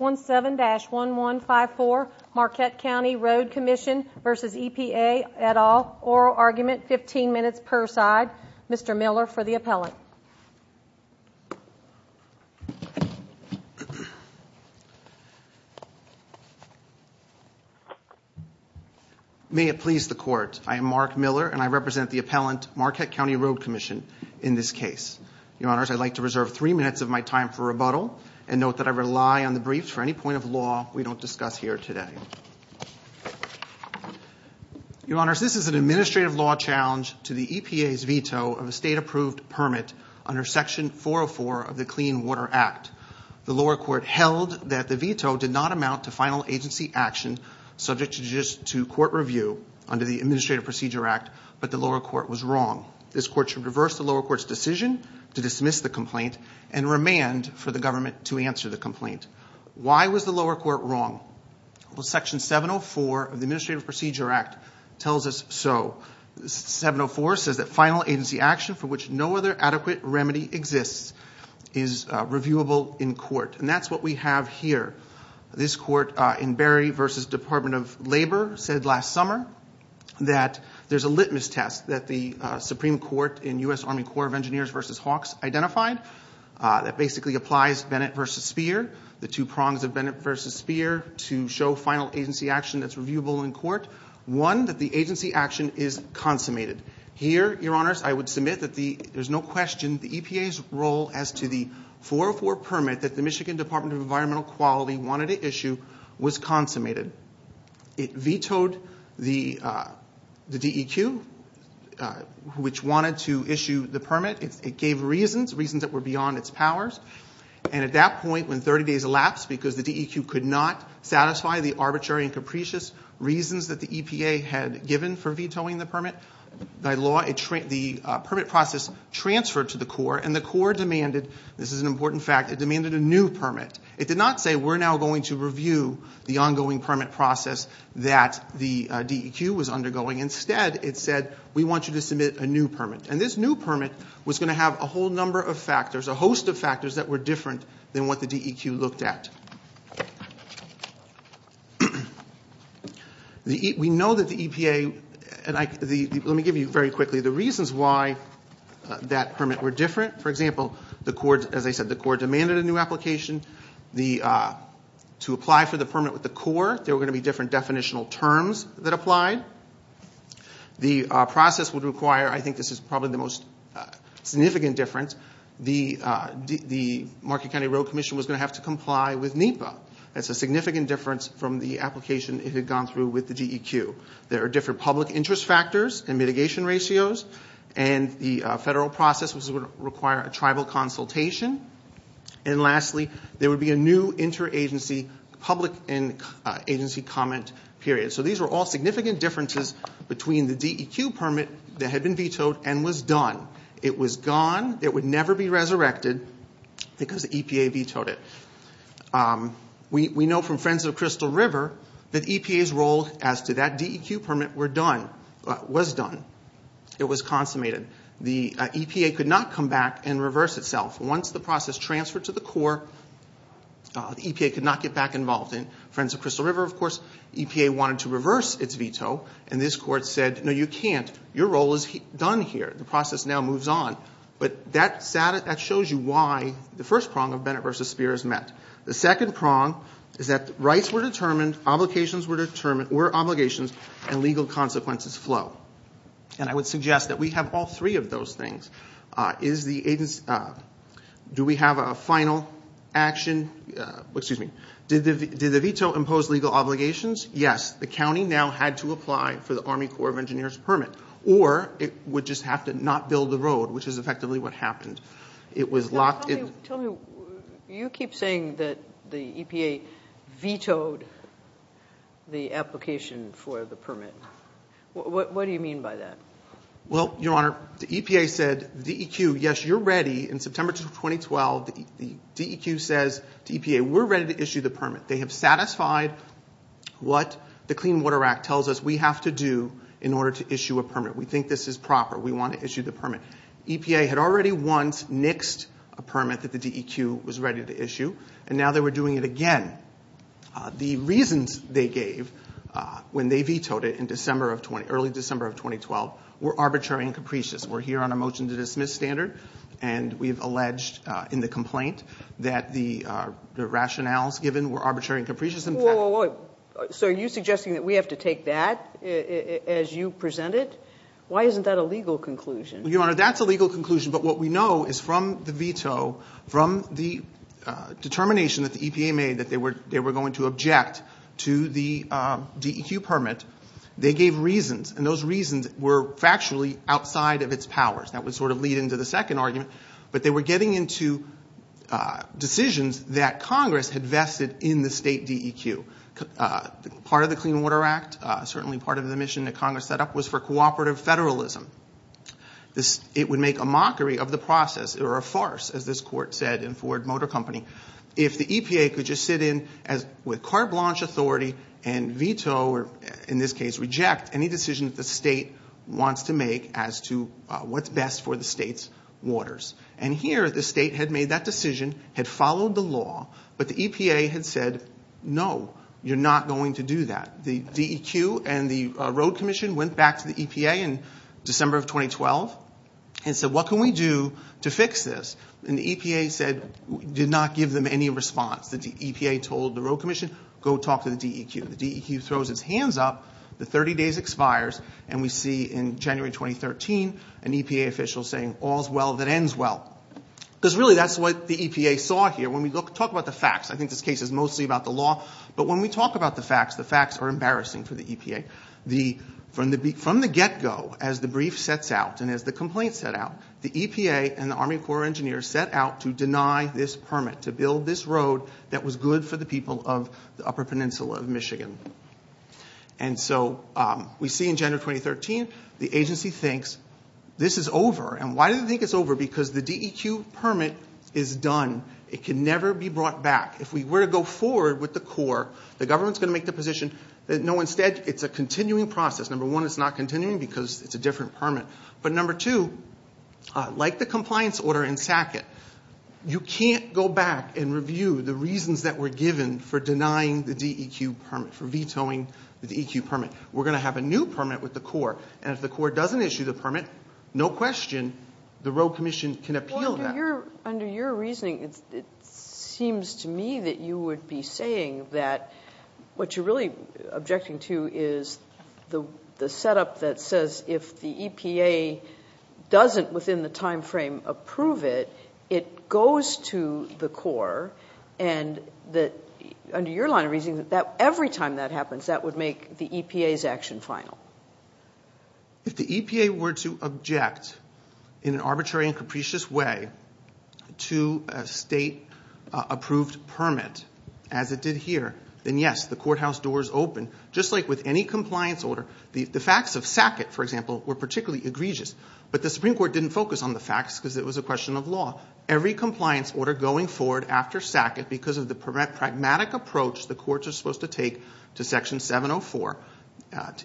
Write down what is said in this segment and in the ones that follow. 17-1154 Marquette County Road Commission v. EPA et al. Oral Argument, 15 minutes per side. Mr. Miller for the appellant. May it please the Court, I am Mark Miller and I represent the appellant Marquette County Road Commission in this case. Your Honors, I'd like to reserve three minutes of my time for rebuttal and note that I rely on the briefs for any point of law we don't discuss here today. Your Honors, this is an administrative law challenge to the EPA's veto of a state-approved permit under Section 404 of the Clean Water Act. The lower court held that the veto did not amount to final agency action subject to court review under the Administrative Procedure Act, but the lower court was wrong. This court should reverse the lower court's decision to dismiss the complaint and remand for the government to answer the complaint. Why was the lower court wrong? Well, Section 704 of the Administrative Procedure Act tells us so. Section 704 says that final agency action for which no other adequate remedy exists is reviewable in court, and that's what we have here. This court in Berry v. Department of Labor said last summer that there's a litmus test that the Supreme Court in U.S. Army Corps of Engineers v. Hawks identified that basically applies Bennett v. Speer, the two prongs of Bennett v. Speer, to show final agency action that's reviewable in court. One, that the agency action is consummated. Here, Your Honors, I would submit that there's no question the EPA's role as to the 404 permit that the Michigan Department of Environmental Quality wanted to issue was consummated. It vetoed the DEQ, which wanted to issue the permit. It gave reasons, reasons that were beyond its powers, and at that point, when 30 days elapsed because the DEQ could not satisfy the arbitrary and capricious reasons that the EPA had given for vetoing the permit, by law, the permit process transferred to the Corps, and the Corps demanded, this is an important fact, it demanded a new permit. It did not say, we're now going to review the ongoing permit process that the DEQ was undergoing. Instead, it said, we want you to submit a new permit, and this new permit was going to have a whole number of factors, a host of factors that were different than what the DEQ looked at. We know that the EPA, and let me give you very quickly the reasons why that permit were different. For example, as I said, the Corps demanded a new application. To apply for the permit with the Corps, there were going to be different definitional terms that applied. The process would require, I think this is probably the most significant difference, the Market County Road Commission was going to have to comply with NEPA. That's a significant difference from the application it had gone through with the DEQ. There are different public interest factors and mitigation ratios, and the federal process was going to require a tribal consultation. And lastly, there would be a new interagency public and agency comment period. So these were all significant differences between the DEQ permit that had been vetoed and was done. It was gone. It would never be resurrected because the EPA vetoed it. We know from Friends of Crystal River that EPA's role as to that DEQ permit was done. It was consummated. The EPA could not come back and reverse itself. Once the process transferred to the Corps, the EPA could not get back involved. In Friends of Crystal River, of course, EPA wanted to reverse its veto, and this Court said, no, you can't, your role is done here, the process now moves on. But that shows you why the first prong of Bennett v. Speer is met. The second prong is that rights were determined, obligations were determined, where obligations and legal consequences flow. And I would suggest that we have all three of those things. Do we have a final action? Did the veto impose legal obligations? Yes, the county now had to apply for the Army Corps of Engineers permit, or it would just have to not build the road, which is effectively what happened. Tell me, you keep saying that the EPA vetoed the application for the permit. What do you mean by that? Well, Your Honor, the EPA said, DEQ, yes, you're ready. In September 2012, the DEQ says to EPA, we're ready to issue the permit. They have satisfied what the Clean Water Act tells us we have to do in order to issue a permit. We think this is proper. We want to issue the permit. EPA had already once nixed a permit that the DEQ was ready to issue, and now they were doing it again. The reasons they gave when they vetoed it in early December of 2012 were arbitrary and capricious. We're here on a motion to dismiss standard, and we've alleged in the complaint that the rationales given were arbitrary and capricious. So are you suggesting that we have to take that as you present it? Why isn't that a legal conclusion? Well, Your Honor, that's a legal conclusion, but what we know is from the veto, from the determination that the EPA made that they were going to object to the DEQ permit, they gave reasons, and those reasons were factually outside of its powers. That would sort of lead into the second argument, but they were getting into decisions that Congress had vested in the state DEQ. Part of the Clean Water Act, certainly part of the mission that Congress set up, was for cooperative federalism. It would make a mockery of the process, or a farce, as this court said in Ford Motor Company, if the EPA could just sit in with carte blanche authority and veto, or in this case reject, any decision that the state wants to make as to what's best for the state's waters. And here, the state had made that decision, had followed the law, but the EPA had said, no, you're not going to do that. The DEQ and the road commission went back to the EPA in December of 2012 and said, what can we do to fix this? And the EPA said, did not give them any response. The EPA told the road commission, go talk to the DEQ. The DEQ throws its hands up, the 30 days expires, and we see in January 2013 an EPA official saying, all's well that ends well. Because really that's what the EPA saw here. When we talk about the facts, I think this case is mostly about the law, but when we talk about the facts, the facts are embarrassing for the EPA. From the get-go, as the brief sets out and as the complaint set out, the EPA and the Army Corps of Engineers set out to deny this permit, to build this road that was good for the people of the upper peninsula of Michigan. And so we see in January 2013, the agency thinks, this is over. And why do they think it's over? Because the DEQ permit is done. It can never be brought back. If we were to go forward with the Corps, the government's going to make the position, no, instead it's a continuing process. Number one, it's not continuing because it's a different permit. But number two, like the compliance order in SACIT, you can't go back and review the reasons that were given for denying the DEQ permit, for vetoing the DEQ permit. We're going to have a new permit with the Corps, and if the Corps doesn't issue the permit, no question, the road commission can appeal that. Under your reasoning, it seems to me that you would be saying that what you're really objecting to is the setup that says if the EPA doesn't, within the time frame, approve it, it goes to the Corps, and under your line of reasoning, every time that happens that would make the EPA's action final. If the EPA were to object in an arbitrary and capricious way to a state-approved permit, as it did here, then yes, the courthouse doors open, just like with any compliance order. The facts of SACIT, for example, were particularly egregious, but the Supreme Court didn't focus on the facts because it was a question of law. Every compliance order going forward after SACIT because of the pragmatic approach the courts are supposed to take to Section 704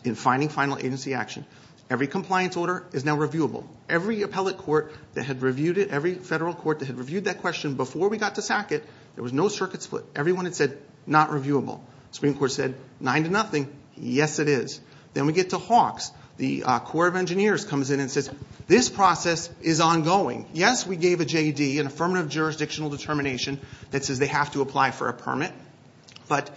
in finding final agency action, every compliance order is now reviewable. Every appellate court that had reviewed it, every federal court that had reviewed that question before we got to SACIT, there was no circuit split. Everyone had said, not reviewable. The Supreme Court said, nine to nothing. Yes, it is. Then we get to Hawks. The Corps of Engineers comes in and says, this process is ongoing. Yes, we gave a JED, an affirmative jurisdictional determination, that says they have to apply for a permit, but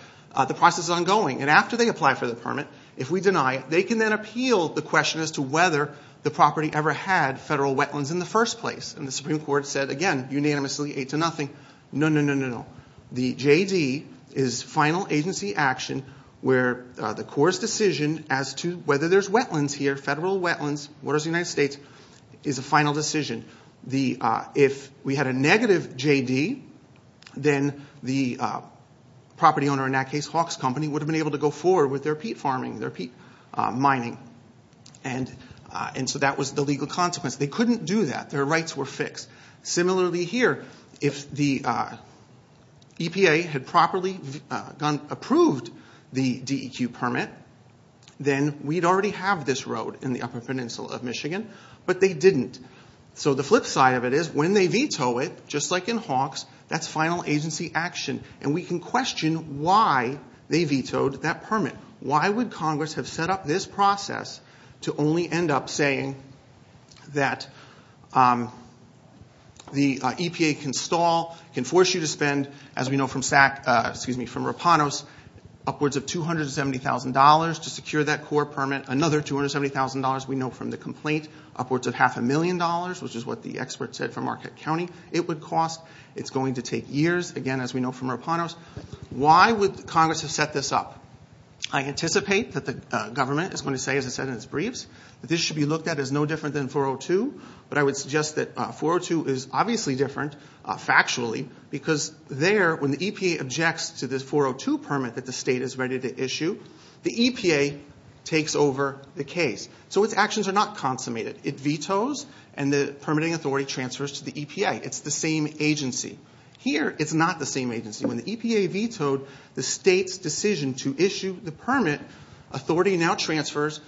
the process is ongoing. And after they apply for the permit, if we deny it, they can then appeal the question as to whether the property ever had federal wetlands in the first place. And the Supreme Court said, again, unanimously, eight to nothing. No, no, no, no, no. The JED is final agency action where the Corps' decision as to whether there's wetlands here, federal wetlands, waters of the United States, is a final decision. If we had a negative JED, then the property owner, in that case Hawks Company, would have been able to go forward with their peat farming, their peat mining. And so that was the legal consequence. They couldn't do that. Their rights were fixed. Similarly here, if the EPA had properly approved the DEQ permit, then we'd already have this road in the upper peninsula of Michigan, but they didn't. So the flip side of it is, when they veto it, just like in Hawks, that's final agency action. And we can question why they vetoed that permit. Why would Congress have set up this process to only end up saying that the EPA can stall, can force you to spend, as we know from Rapanos, upwards of $270,000 to secure that Corps permit, another $270,000 we know from the complaint, upwards of half a million dollars, which is what the expert said from Marquette County it would cost. It's going to take years, again, as we know from Rapanos. Why would Congress have set this up? I anticipate that the government is going to say, as I said in its briefs, that this should be looked at as no different than 402. But I would suggest that 402 is obviously different, factually, because there, when the EPA objects to this 402 permit that the state is ready to issue, the EPA takes over the case. So its actions are not consummated. It vetoes, and the permitting authority transfers to the EPA. It's the same agency. Here, it's not the same agency. When the EPA vetoed the state's decision to issue the permit, authority now transfers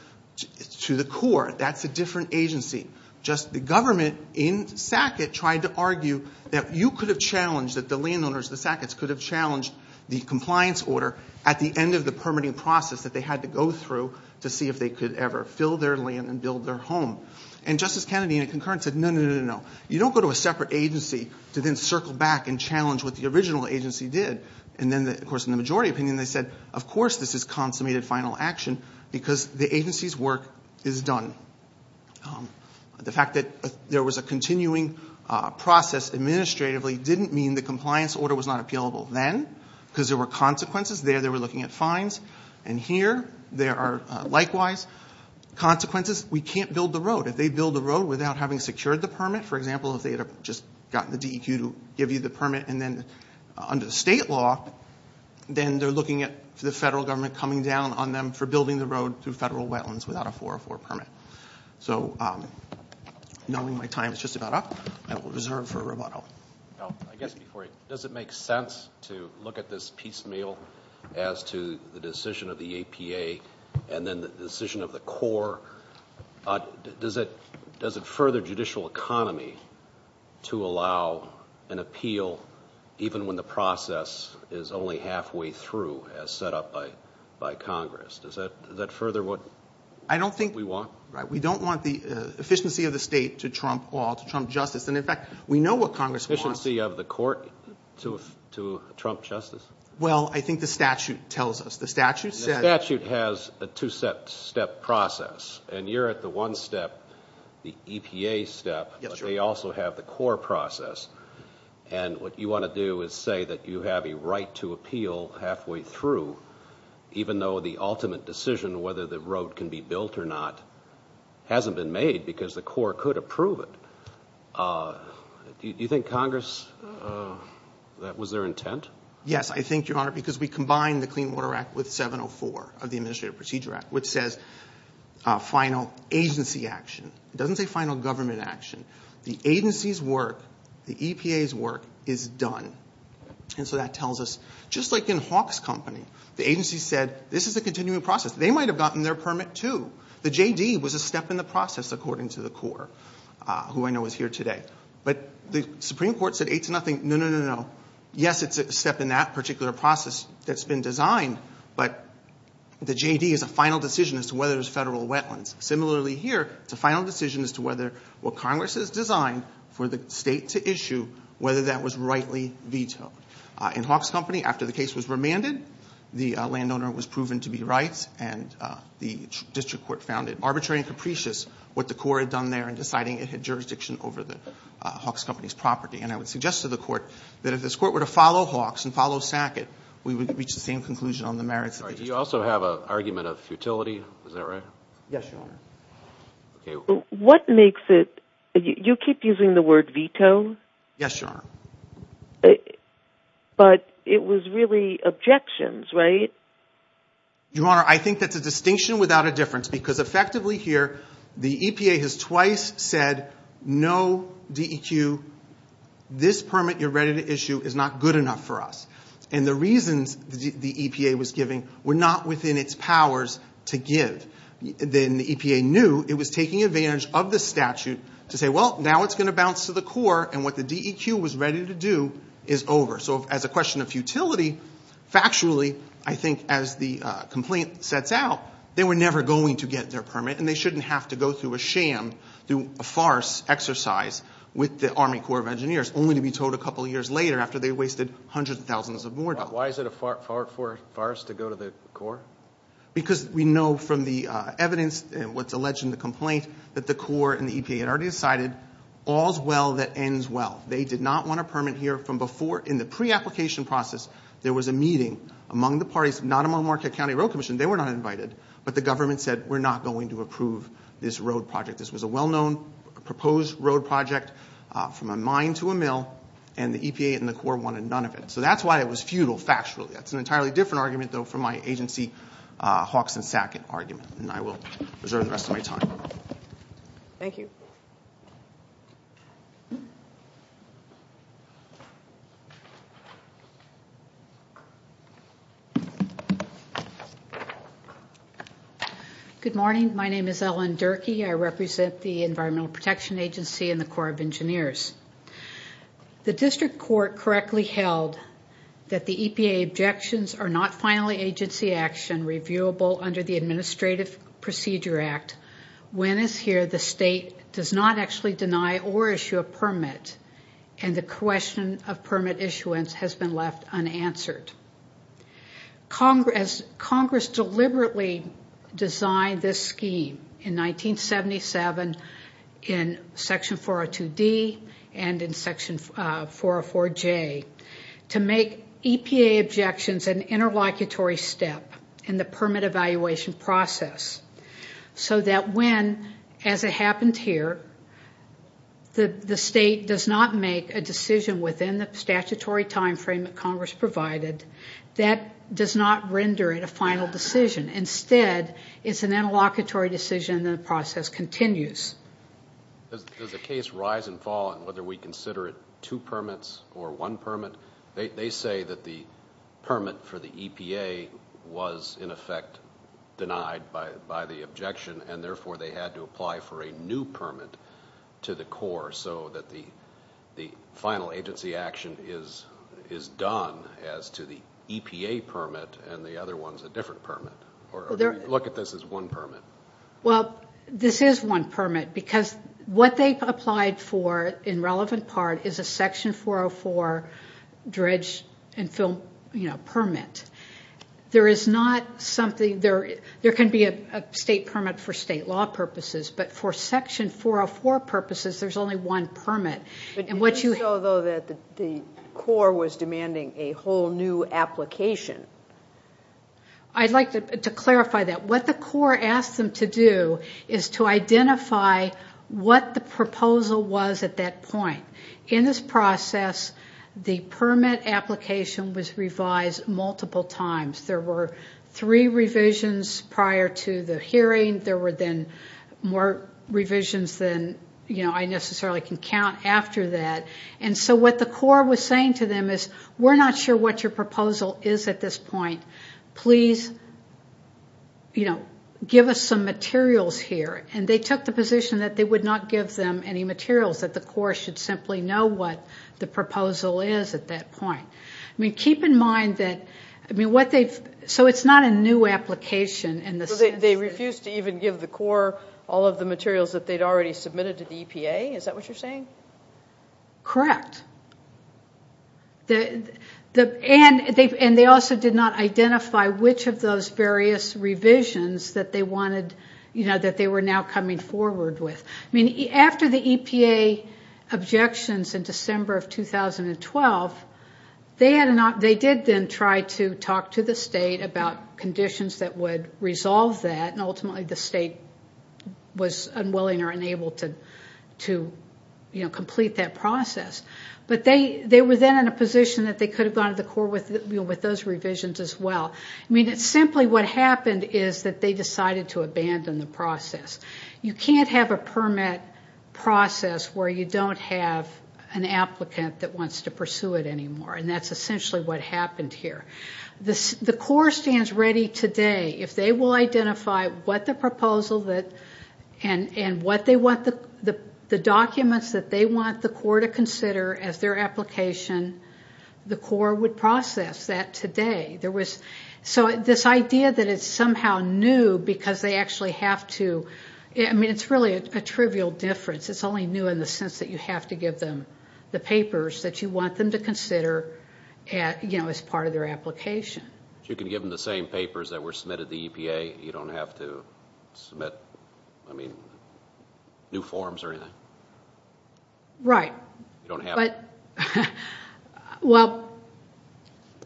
to the Corps. That's a different agency. Just the government in Sackett tried to argue that you could have challenged, that the landowners of the Sacketts could have challenged the compliance order at the end of the permitting process that they had to go through to see if they could ever fill their land and build their home. And Justice Kennedy in a concurrence said, no, no, no, no, no. You don't go to a separate agency to then circle back and challenge what the original agency did. And then, of course, in the majority opinion, they said, of course this is consummated final action because the agency's work is done. The fact that there was a continuing process administratively didn't mean the compliance order was not appealable then because there were consequences. There, they were looking at fines. And here, there are likewise consequences. We can't build the road. If they build the road without having secured the permit, for example, if they had just gotten the DEQ to give you the permit and then under the state law, then they're looking at the federal government coming down on them for building the road through federal wetlands without a 404 permit. So knowing my time is just about up, I will reserve for Roboto. I guess before you, does it make sense to look at this piecemeal as to the decision of the EPA and then the decision of the Corps? Does it further judicial economy to allow an appeal even when the process is only halfway through as set up by Congress? Does that further what we want? We don't want the efficiency of the state to trump all, to trump justice. And, in fact, we know what Congress wants. Efficiency of the court to trump justice? Well, I think the statute tells us. The statute has a two-step process, and you're at the one step, the EPA step, but they also have the Corps process. And what you want to do is say that you have a right to appeal halfway through even though the ultimate decision whether the road can be built or not hasn't been made because the Corps could approve it. Do you think Congress, that was their intent? Yes, I think, Your Honor, because we combined the Clean Water Act with 704 of the Administrative Procedure Act, which says final agency action. It doesn't say final government action. The agency's work, the EPA's work, is done. And so that tells us, just like in Hawk's Company, the agency said this is a continuing process. They might have gotten their permit too. The JD was a step in the process, according to the Corps, who I know is here today. But the Supreme Court said eight to nothing. No, no, no, no. Yes, it's a step in that particular process that's been designed, but the JD is a final decision as to whether there's federal wetlands. Similarly here, it's a final decision as to whether what Congress has designed for the state to issue, whether that was rightly vetoed. In Hawk's Company, after the case was remanded, the landowner was proven to be right, and the district court found it arbitrary and capricious what the Corps had done there in deciding it had jurisdiction over the Hawk's Company's property. And I would suggest to the court that if this court were to follow Hawk's and follow Sackett, we would reach the same conclusion on the merits. Do you also have an argument of futility? Is that right? Yes, Your Honor. What makes it – you keep using the word veto. Yes, Your Honor. But it was really objections, right? Your Honor, I think that's a distinction without a difference, because effectively here the EPA has twice said, no, DEQ, this permit you're ready to issue is not good enough for us. And the reasons the EPA was giving were not within its powers to give. Then the EPA knew it was taking advantage of the statute to say, well, now it's going to bounce to the Corps, and what the DEQ was ready to do is over. So as a question of futility, factually, I think as the complaint sets out, they were never going to get their permit, and they shouldn't have to go through a sham, through a farce exercise, with the Army Corps of Engineers, only to be told a couple of years later after they wasted hundreds of thousands of more dollars. Why is it a farce to go to the Corps? Because we know from the evidence, what's alleged in the complaint, that the Corps and the EPA had already decided all's well that ends well. They did not want a permit here from before. In the pre-application process, there was a meeting among the parties, not among Marquette County Road Commission. They were not invited, but the government said, we're not going to approve this road project. This was a well-known proposed road project from a mine to a mill, and the EPA and the Corps wanted none of it. So that's why it was futile, factually. That's an entirely different argument, though, from my agency Hawks and Sackett argument, and I will reserve the rest of my time. Thank you. Good morning. My name is Ellen Durkee. I represent the Environmental Protection Agency and the Corps of Engineers. The district court correctly held that the EPA objections are not finally agency action and reviewable under the Administrative Procedure Act. When it's here, the state does not actually deny or issue a permit, and the question of permit issuance has been left unanswered. Congress deliberately designed this scheme in 1977 in Section 402D and in Section 404J to make EPA objections an interlocutory step in the permit evaluation process so that when, as it happened here, the state does not make a decision within the statutory time frame that Congress provided, that does not render it a final decision. Instead, it's an interlocutory decision, and the process continues. Does the case rise and fall in whether we consider it two permits or one permit? They say that the permit for the EPA was, in effect, denied by the objection, and therefore they had to apply for a new permit to the Corps so that the final agency action is done as to the EPA permit, and the other one's a different permit, or do we look at this as one permit? Well, this is one permit because what they applied for, in relevant part, is a Section 404 dredge and fill permit. There is not something there. There can be a state permit for state law purposes, but for Section 404 purposes, there's only one permit. But it was so, though, that the Corps was demanding a whole new application. I'd like to clarify that. What the Corps asked them to do is to identify what the proposal was at that point. In this process, the permit application was revised multiple times. There were three revisions prior to the hearing. There were then more revisions than I necessarily can count after that. And so what the Corps was saying to them is, we're not sure what your proposal is at this point. Please, you know, give us some materials here. And they took the position that they would not give them any materials, that the Corps should simply know what the proposal is at that point. I mean, keep in mind that, I mean, what they've – so it's not a new application in the sense that – So they refused to even give the Corps all of the materials that they'd already submitted to the EPA? Is that what you're saying? Correct. And they also did not identify which of those various revisions that they wanted – you know, that they were now coming forward with. I mean, after the EPA objections in December of 2012, they did then try to talk to the state about conditions that would resolve that, and ultimately the state was unwilling or unable to, you know, complete that process. But they were then in a position that they could have gone to the Corps with those revisions as well. I mean, simply what happened is that they decided to abandon the process. You can't have a permit process where you don't have an applicant that wants to pursue it anymore, and that's essentially what happened here. The Corps stands ready today. If they will identify what the proposal and what they want – the documents that they want the Corps to consider as their application, the Corps would process that today. So this idea that it's somehow new because they actually have to – I mean, it's really a trivial difference. It's only new in the sense that you have to give them the papers that you want them to consider, you know, as part of their application. You can give them the same papers that were submitted to the EPA. You don't have to submit, I mean, new forms or anything. Right. You don't have to. Well,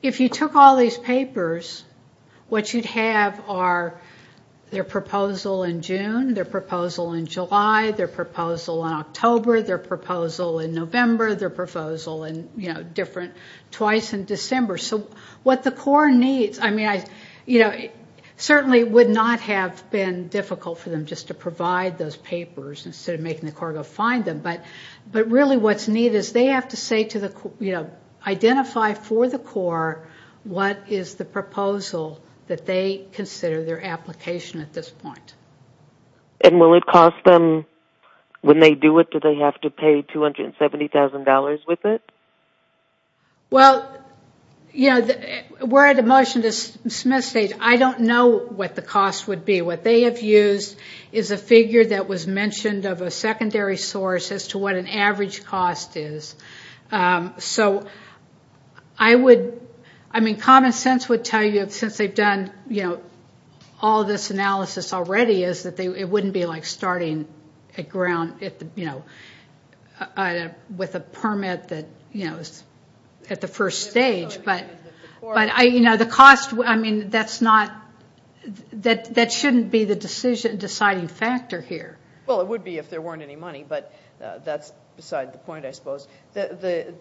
if you took all these papers, what you'd have are their proposal in June, their proposal in July, their proposal in October, their proposal in November, their proposal in, you know, different – twice in December. So what the Corps needs – I mean, you know, it certainly would not have been difficult for them just to provide those papers instead of making the Corps go find them. But really what's needed is they have to say to the – you know, identify for the Corps what is the proposal that they consider their application at this point. And will it cost them – when they do it, do they have to pay $270,000 with it? Well, you know, we're at a motion to dismiss stage. I don't know what the cost would be. What they have used is a figure that was mentioned of a secondary source as to what an average cost is. So I would – I mean, common sense would tell you that since they've done, you know, all this analysis already is that it wouldn't be like starting at ground, you know, with a permit that, you know, is at the first stage. But, you know, the cost – I mean, that's not – that shouldn't be the deciding factor here. Well, it would be if there weren't any money, but that's beside the point, I suppose. The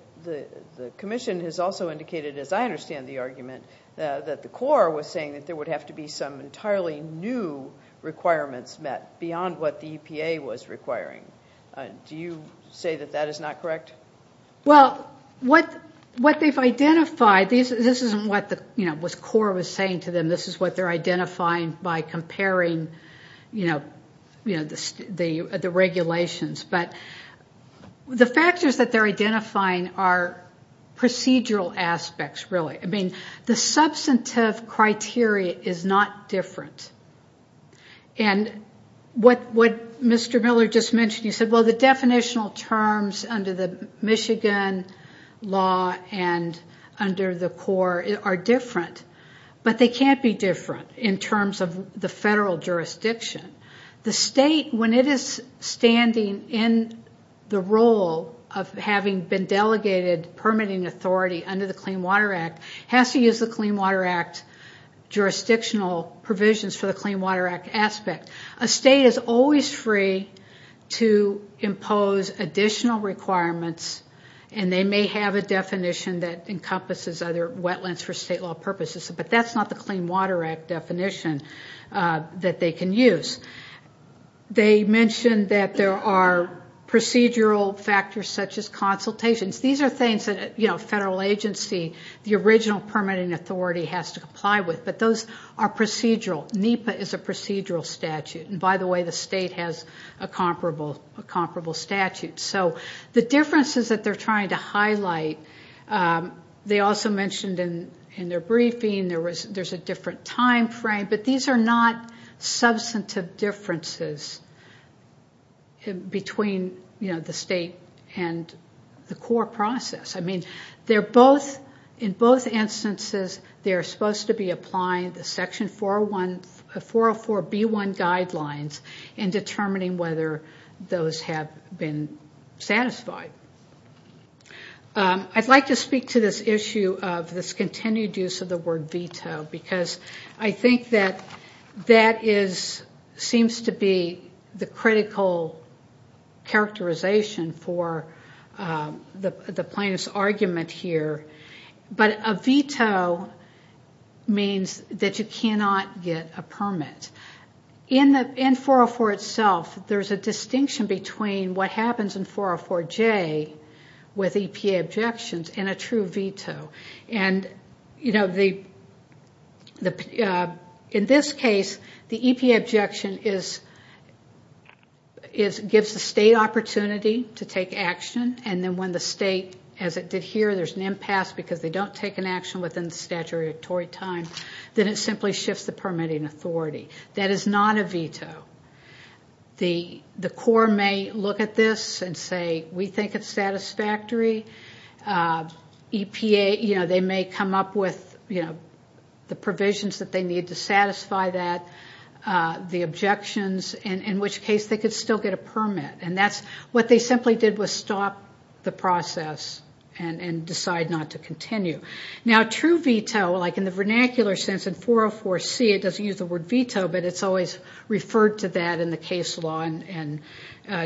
Commission has also indicated, as I understand the argument, that the Corps was saying that there would have to be some entirely new requirements met beyond what the EPA was requiring. Do you say that that is not correct? Well, what they've identified – this isn't what, you know, what the Corps was saying to them. This is what they're identifying by comparing, you know, the regulations. But the factors that they're identifying are procedural aspects, really. I mean, the substantive criteria is not different. And what Mr. Miller just mentioned, he said, well, the definitional terms under the Michigan law and under the Corps are different, but they can't be different in terms of the federal jurisdiction. The state, when it is standing in the role of having been delegated permitting authority under the Clean Water Act, has to use the Clean Water Act jurisdictional provisions for the Clean Water Act aspect. A state is always free to impose additional requirements, and they may have a definition that encompasses other wetlands for state law purposes, but that's not the Clean Water Act definition that they can use. They mentioned that there are procedural factors such as consultations. These are things that a federal agency, the original permitting authority has to comply with, but those are procedural. NEPA is a procedural statute. And by the way, the state has a comparable statute. So the differences that they're trying to highlight, they also mentioned in their briefing, there's a different timeframe, but these are not substantive differences between the state and the Corps process. I mean, in both instances, they're supposed to be applying the Section 404B1 guidelines in determining whether those have been satisfied. I'd like to speak to this issue of this continued use of the word veto, because I think that that seems to be the critical characterization for the plaintiff's argument here. But a veto means that you cannot get a permit. In 404 itself, there's a distinction between what happens in 404J with EPA objections and a true veto. And, you know, in this case, the EPA objection gives the state opportunity to take action, and then when the state, as it did here, there's an impasse because they don't take an action within the statutory time, then it simply shifts the permitting authority. That is not a veto. The Corps may look at this and say, we think it's satisfactory. EPA, you know, they may come up with the provisions that they need to satisfy that, the objections, in which case they could still get a permit. And that's what they simply did was stop the process and decide not to continue. Now, true veto, like in the vernacular sense in 404C, it doesn't use the word veto, but it's always referred to that in the case law and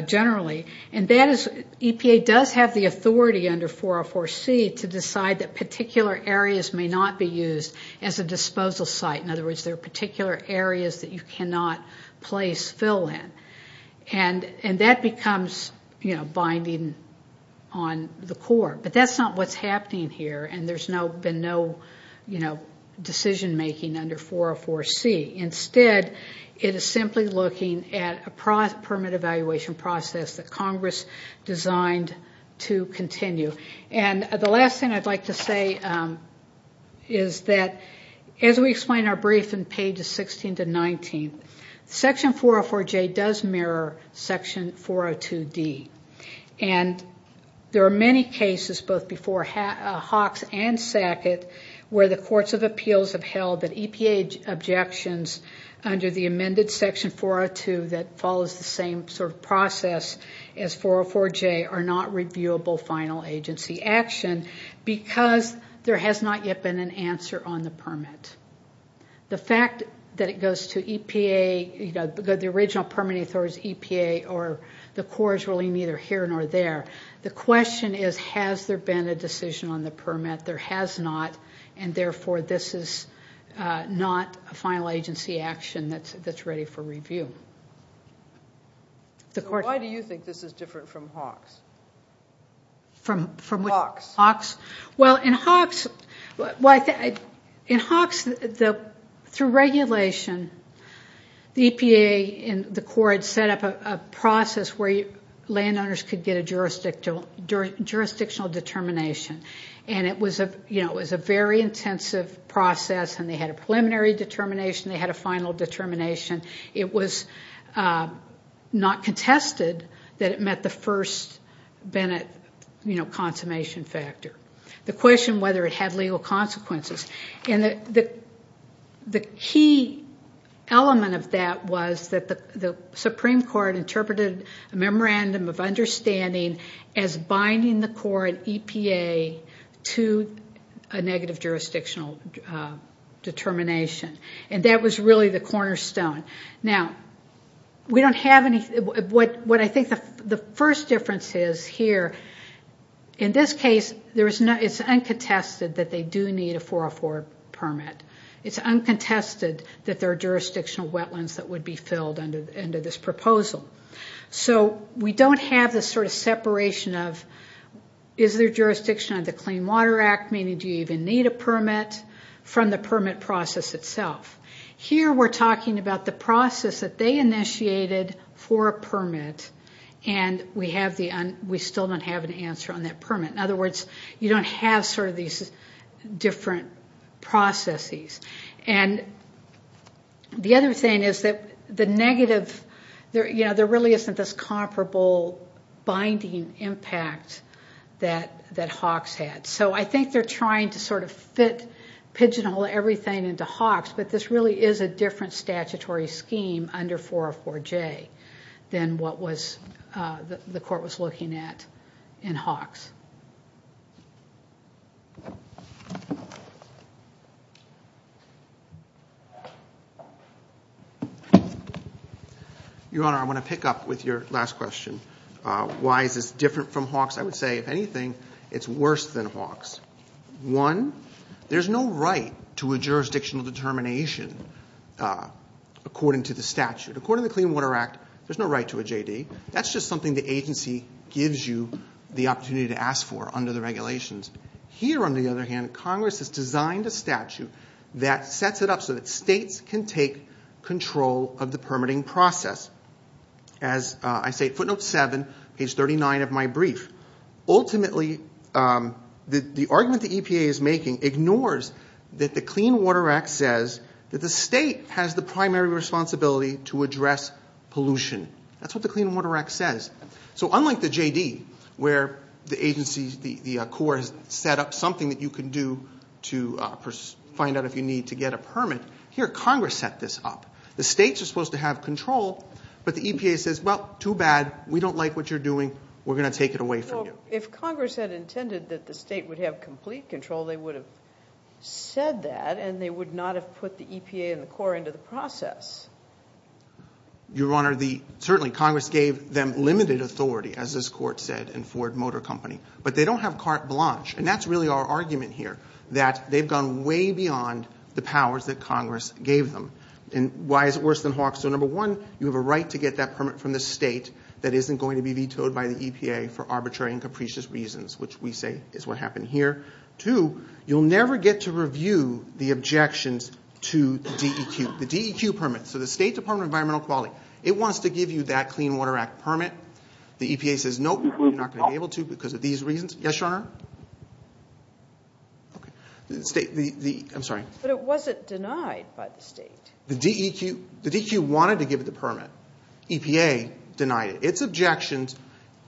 generally. And that is, EPA does have the authority under 404C to decide that particular areas may not be used as a disposal site. In other words, there are particular areas that you cannot place fill in. And that becomes, you know, binding on the Corps. But that's not what's happening here, and there's been no, you know, decision making under 404C. Instead, it is simply looking at a permit evaluation process that Congress designed to continue. And the last thing I'd like to say is that as we explain our brief in pages 16 to 19, Section 404J does mirror Section 402D. And there are many cases, both before Hawks and Sackett, where the courts of appeals have held that EPA objections under the amended Section 402 that follows the same sort of process as 404J are not reviewable final agency action because there has not yet been an answer on the permit. The fact that it goes to EPA, you know, the original permitting authority is EPA, or the Corps is really neither here nor there. The question is, has there been a decision on the permit? There has not, and therefore this is not a final agency action that's ready for review. So why do you think this is different from Hawks? From what? Hawks. Well, in Hawks, through regulation, the EPA and the Corps had set up a process where landowners could get a jurisdictional determination, and it was a very intensive process, and they had a preliminary determination, they had a final determination. It was not contested that it met the first Bennett consummation factor. The question whether it had legal consequences. And the key element of that was that the Supreme Court interpreted a memorandum of understanding as binding the Corps and EPA to a negative jurisdictional determination, and that was really the cornerstone. Now, we don't have any of what I think the first difference is here. In this case, it's uncontested that they do need a 404 permit. It's uncontested that there are jurisdictional wetlands that would be filled under this proposal. So we don't have this sort of separation of is there jurisdiction under the Clean Water Act, meaning do you even need a permit, from the permit process itself. Here we're talking about the process that they initiated for a permit, and we still don't have an answer on that permit. In other words, you don't have sort of these different processes. And the other thing is that there really isn't this comparable binding impact that Hawks had. So I think they're trying to sort of pigeonhole everything into Hawks, but this really is a different statutory scheme under 404J than what the court was looking at in Hawks. Your Honor, I want to pick up with your last question. Why is this different from Hawks? I would say, if anything, it's worse than Hawks. One, there's no right to a jurisdictional determination according to the statute. According to the Clean Water Act, there's no right to a JD. That's just something the agency gives you the opportunity to ask for under the regulations. Here, on the other hand, Congress has designed a statute that sets it up so that states can take control of the permitting process. As I say, footnote 7, page 39 of my brief, ultimately the argument the EPA is making ignores that the Clean Water Act says that the state has the primary responsibility to address pollution. That's what the Clean Water Act says. So unlike the JD, where the agency, the Corps, has set up something that you can do to find out if you need to get a permit, here Congress set this up. The states are supposed to have control, but the EPA says, well, too bad, we don't like what you're doing, we're going to take it away from you. If Congress had intended that the state would have complete control, they would have said that and they would not have put the EPA and the Corps into the process. Your Honor, certainly Congress gave them limited authority, as this Court said, in Ford Motor Company. But they don't have carte blanche, and that's really our argument here, that they've gone way beyond the powers that Congress gave them. And why is it worse than Hawksville? Number one, you have a right to get that permit from the state that isn't going to be vetoed by the EPA for arbitrary and capricious reasons, which we say is what happened here. Two, you'll never get to review the objections to the DEQ permit. So the State Department of Environmental Quality, it wants to give you that Clean Water Act permit. The EPA says, nope, we're not going to be able to because of these reasons. Yes, Your Honor? I'm sorry. But it wasn't denied by the state. The DEQ wanted to give it the permit. EPA denied it. Its objections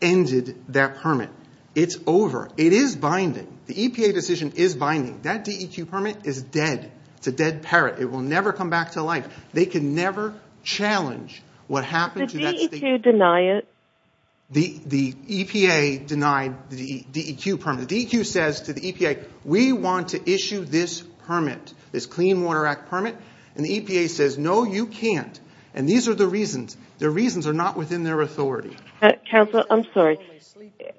ended that permit. It's over. It is binding. The EPA decision is binding. That DEQ permit is dead. It's a dead parrot. It will never come back to life. They can never challenge what happened to that state. Did the DEQ deny it? The EPA denied the DEQ permit. The DEQ says to the EPA, we want to issue this permit, this Clean Water Act permit. And the EPA says, no, you can't. And these are the reasons. The reasons are not within their authority. Counsel, I'm sorry.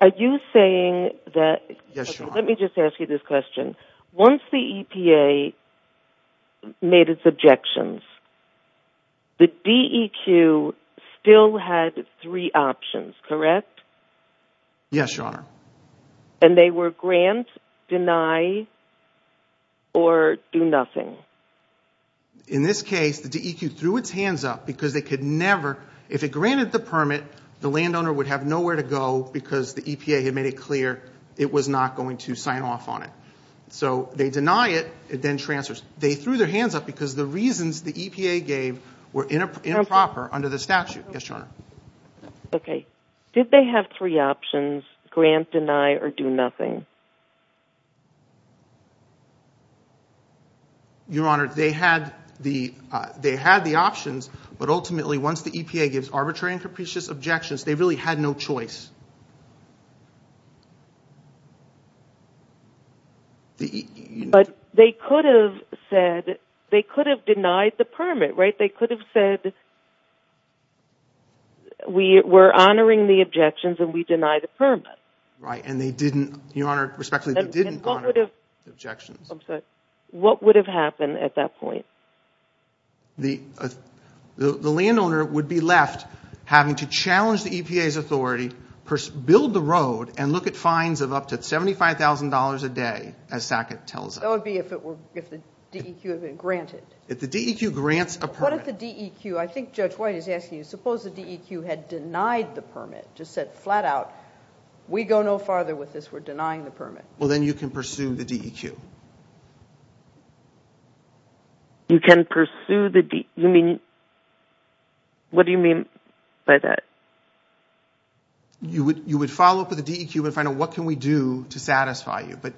Are you saying that – Yes, Your Honor. Let me just ask you this question. Once the EPA made its objections, the DEQ still had three options, correct? Yes, Your Honor. And they were grant, deny, or do nothing. In this case, the DEQ threw its hands up because they could never – if it granted the permit, the landowner would have nowhere to go because the EPA had made it clear it was not going to sign off on it. So they deny it. It then transfers. They threw their hands up because the reasons the EPA gave were improper under the statute. Yes, Your Honor. Okay. Did they have three options, grant, deny, or do nothing? Your Honor, they had the options, but ultimately once the EPA gives arbitrary and capricious objections, they really had no choice. But they could have said – they could have denied the permit, right? They could have said we're honoring the objections and we deny the permit. Right, and they didn't – Your Honor, respectfully, they didn't honor the objections. I'm sorry. What would have happened at that point? The landowner would be left having to challenge the EPA's authority, build the road, and look at fines of up to $75,000 a day, as Sackett tells us. That would be if the DEQ had been granted. If the DEQ grants a permit. What if the DEQ – I think Judge White is asking you, suppose the DEQ had denied the permit, just said flat out, we go no farther with this, we're denying the permit. Well, then you can pursue the DEQ. You can pursue the – you mean – what do you mean by that? You would follow up with the DEQ and find out what can we do to satisfy you. But,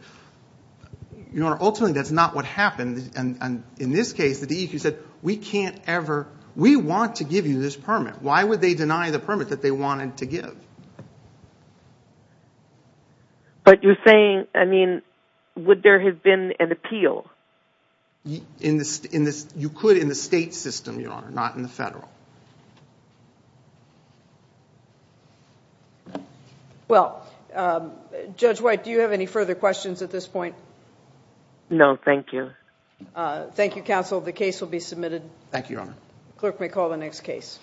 Your Honor, ultimately that's not what happened, and in this case the DEQ said we can't ever – we want to give you this permit. Why would they deny the permit that they wanted to give? But you're saying, I mean, would there have been an appeal? You could in the state system, Your Honor, not in the federal. Well, Judge White, do you have any further questions at this point? No, thank you. Thank you, counsel. The case will be submitted. Thank you, Your Honor. Clerk may call the next case.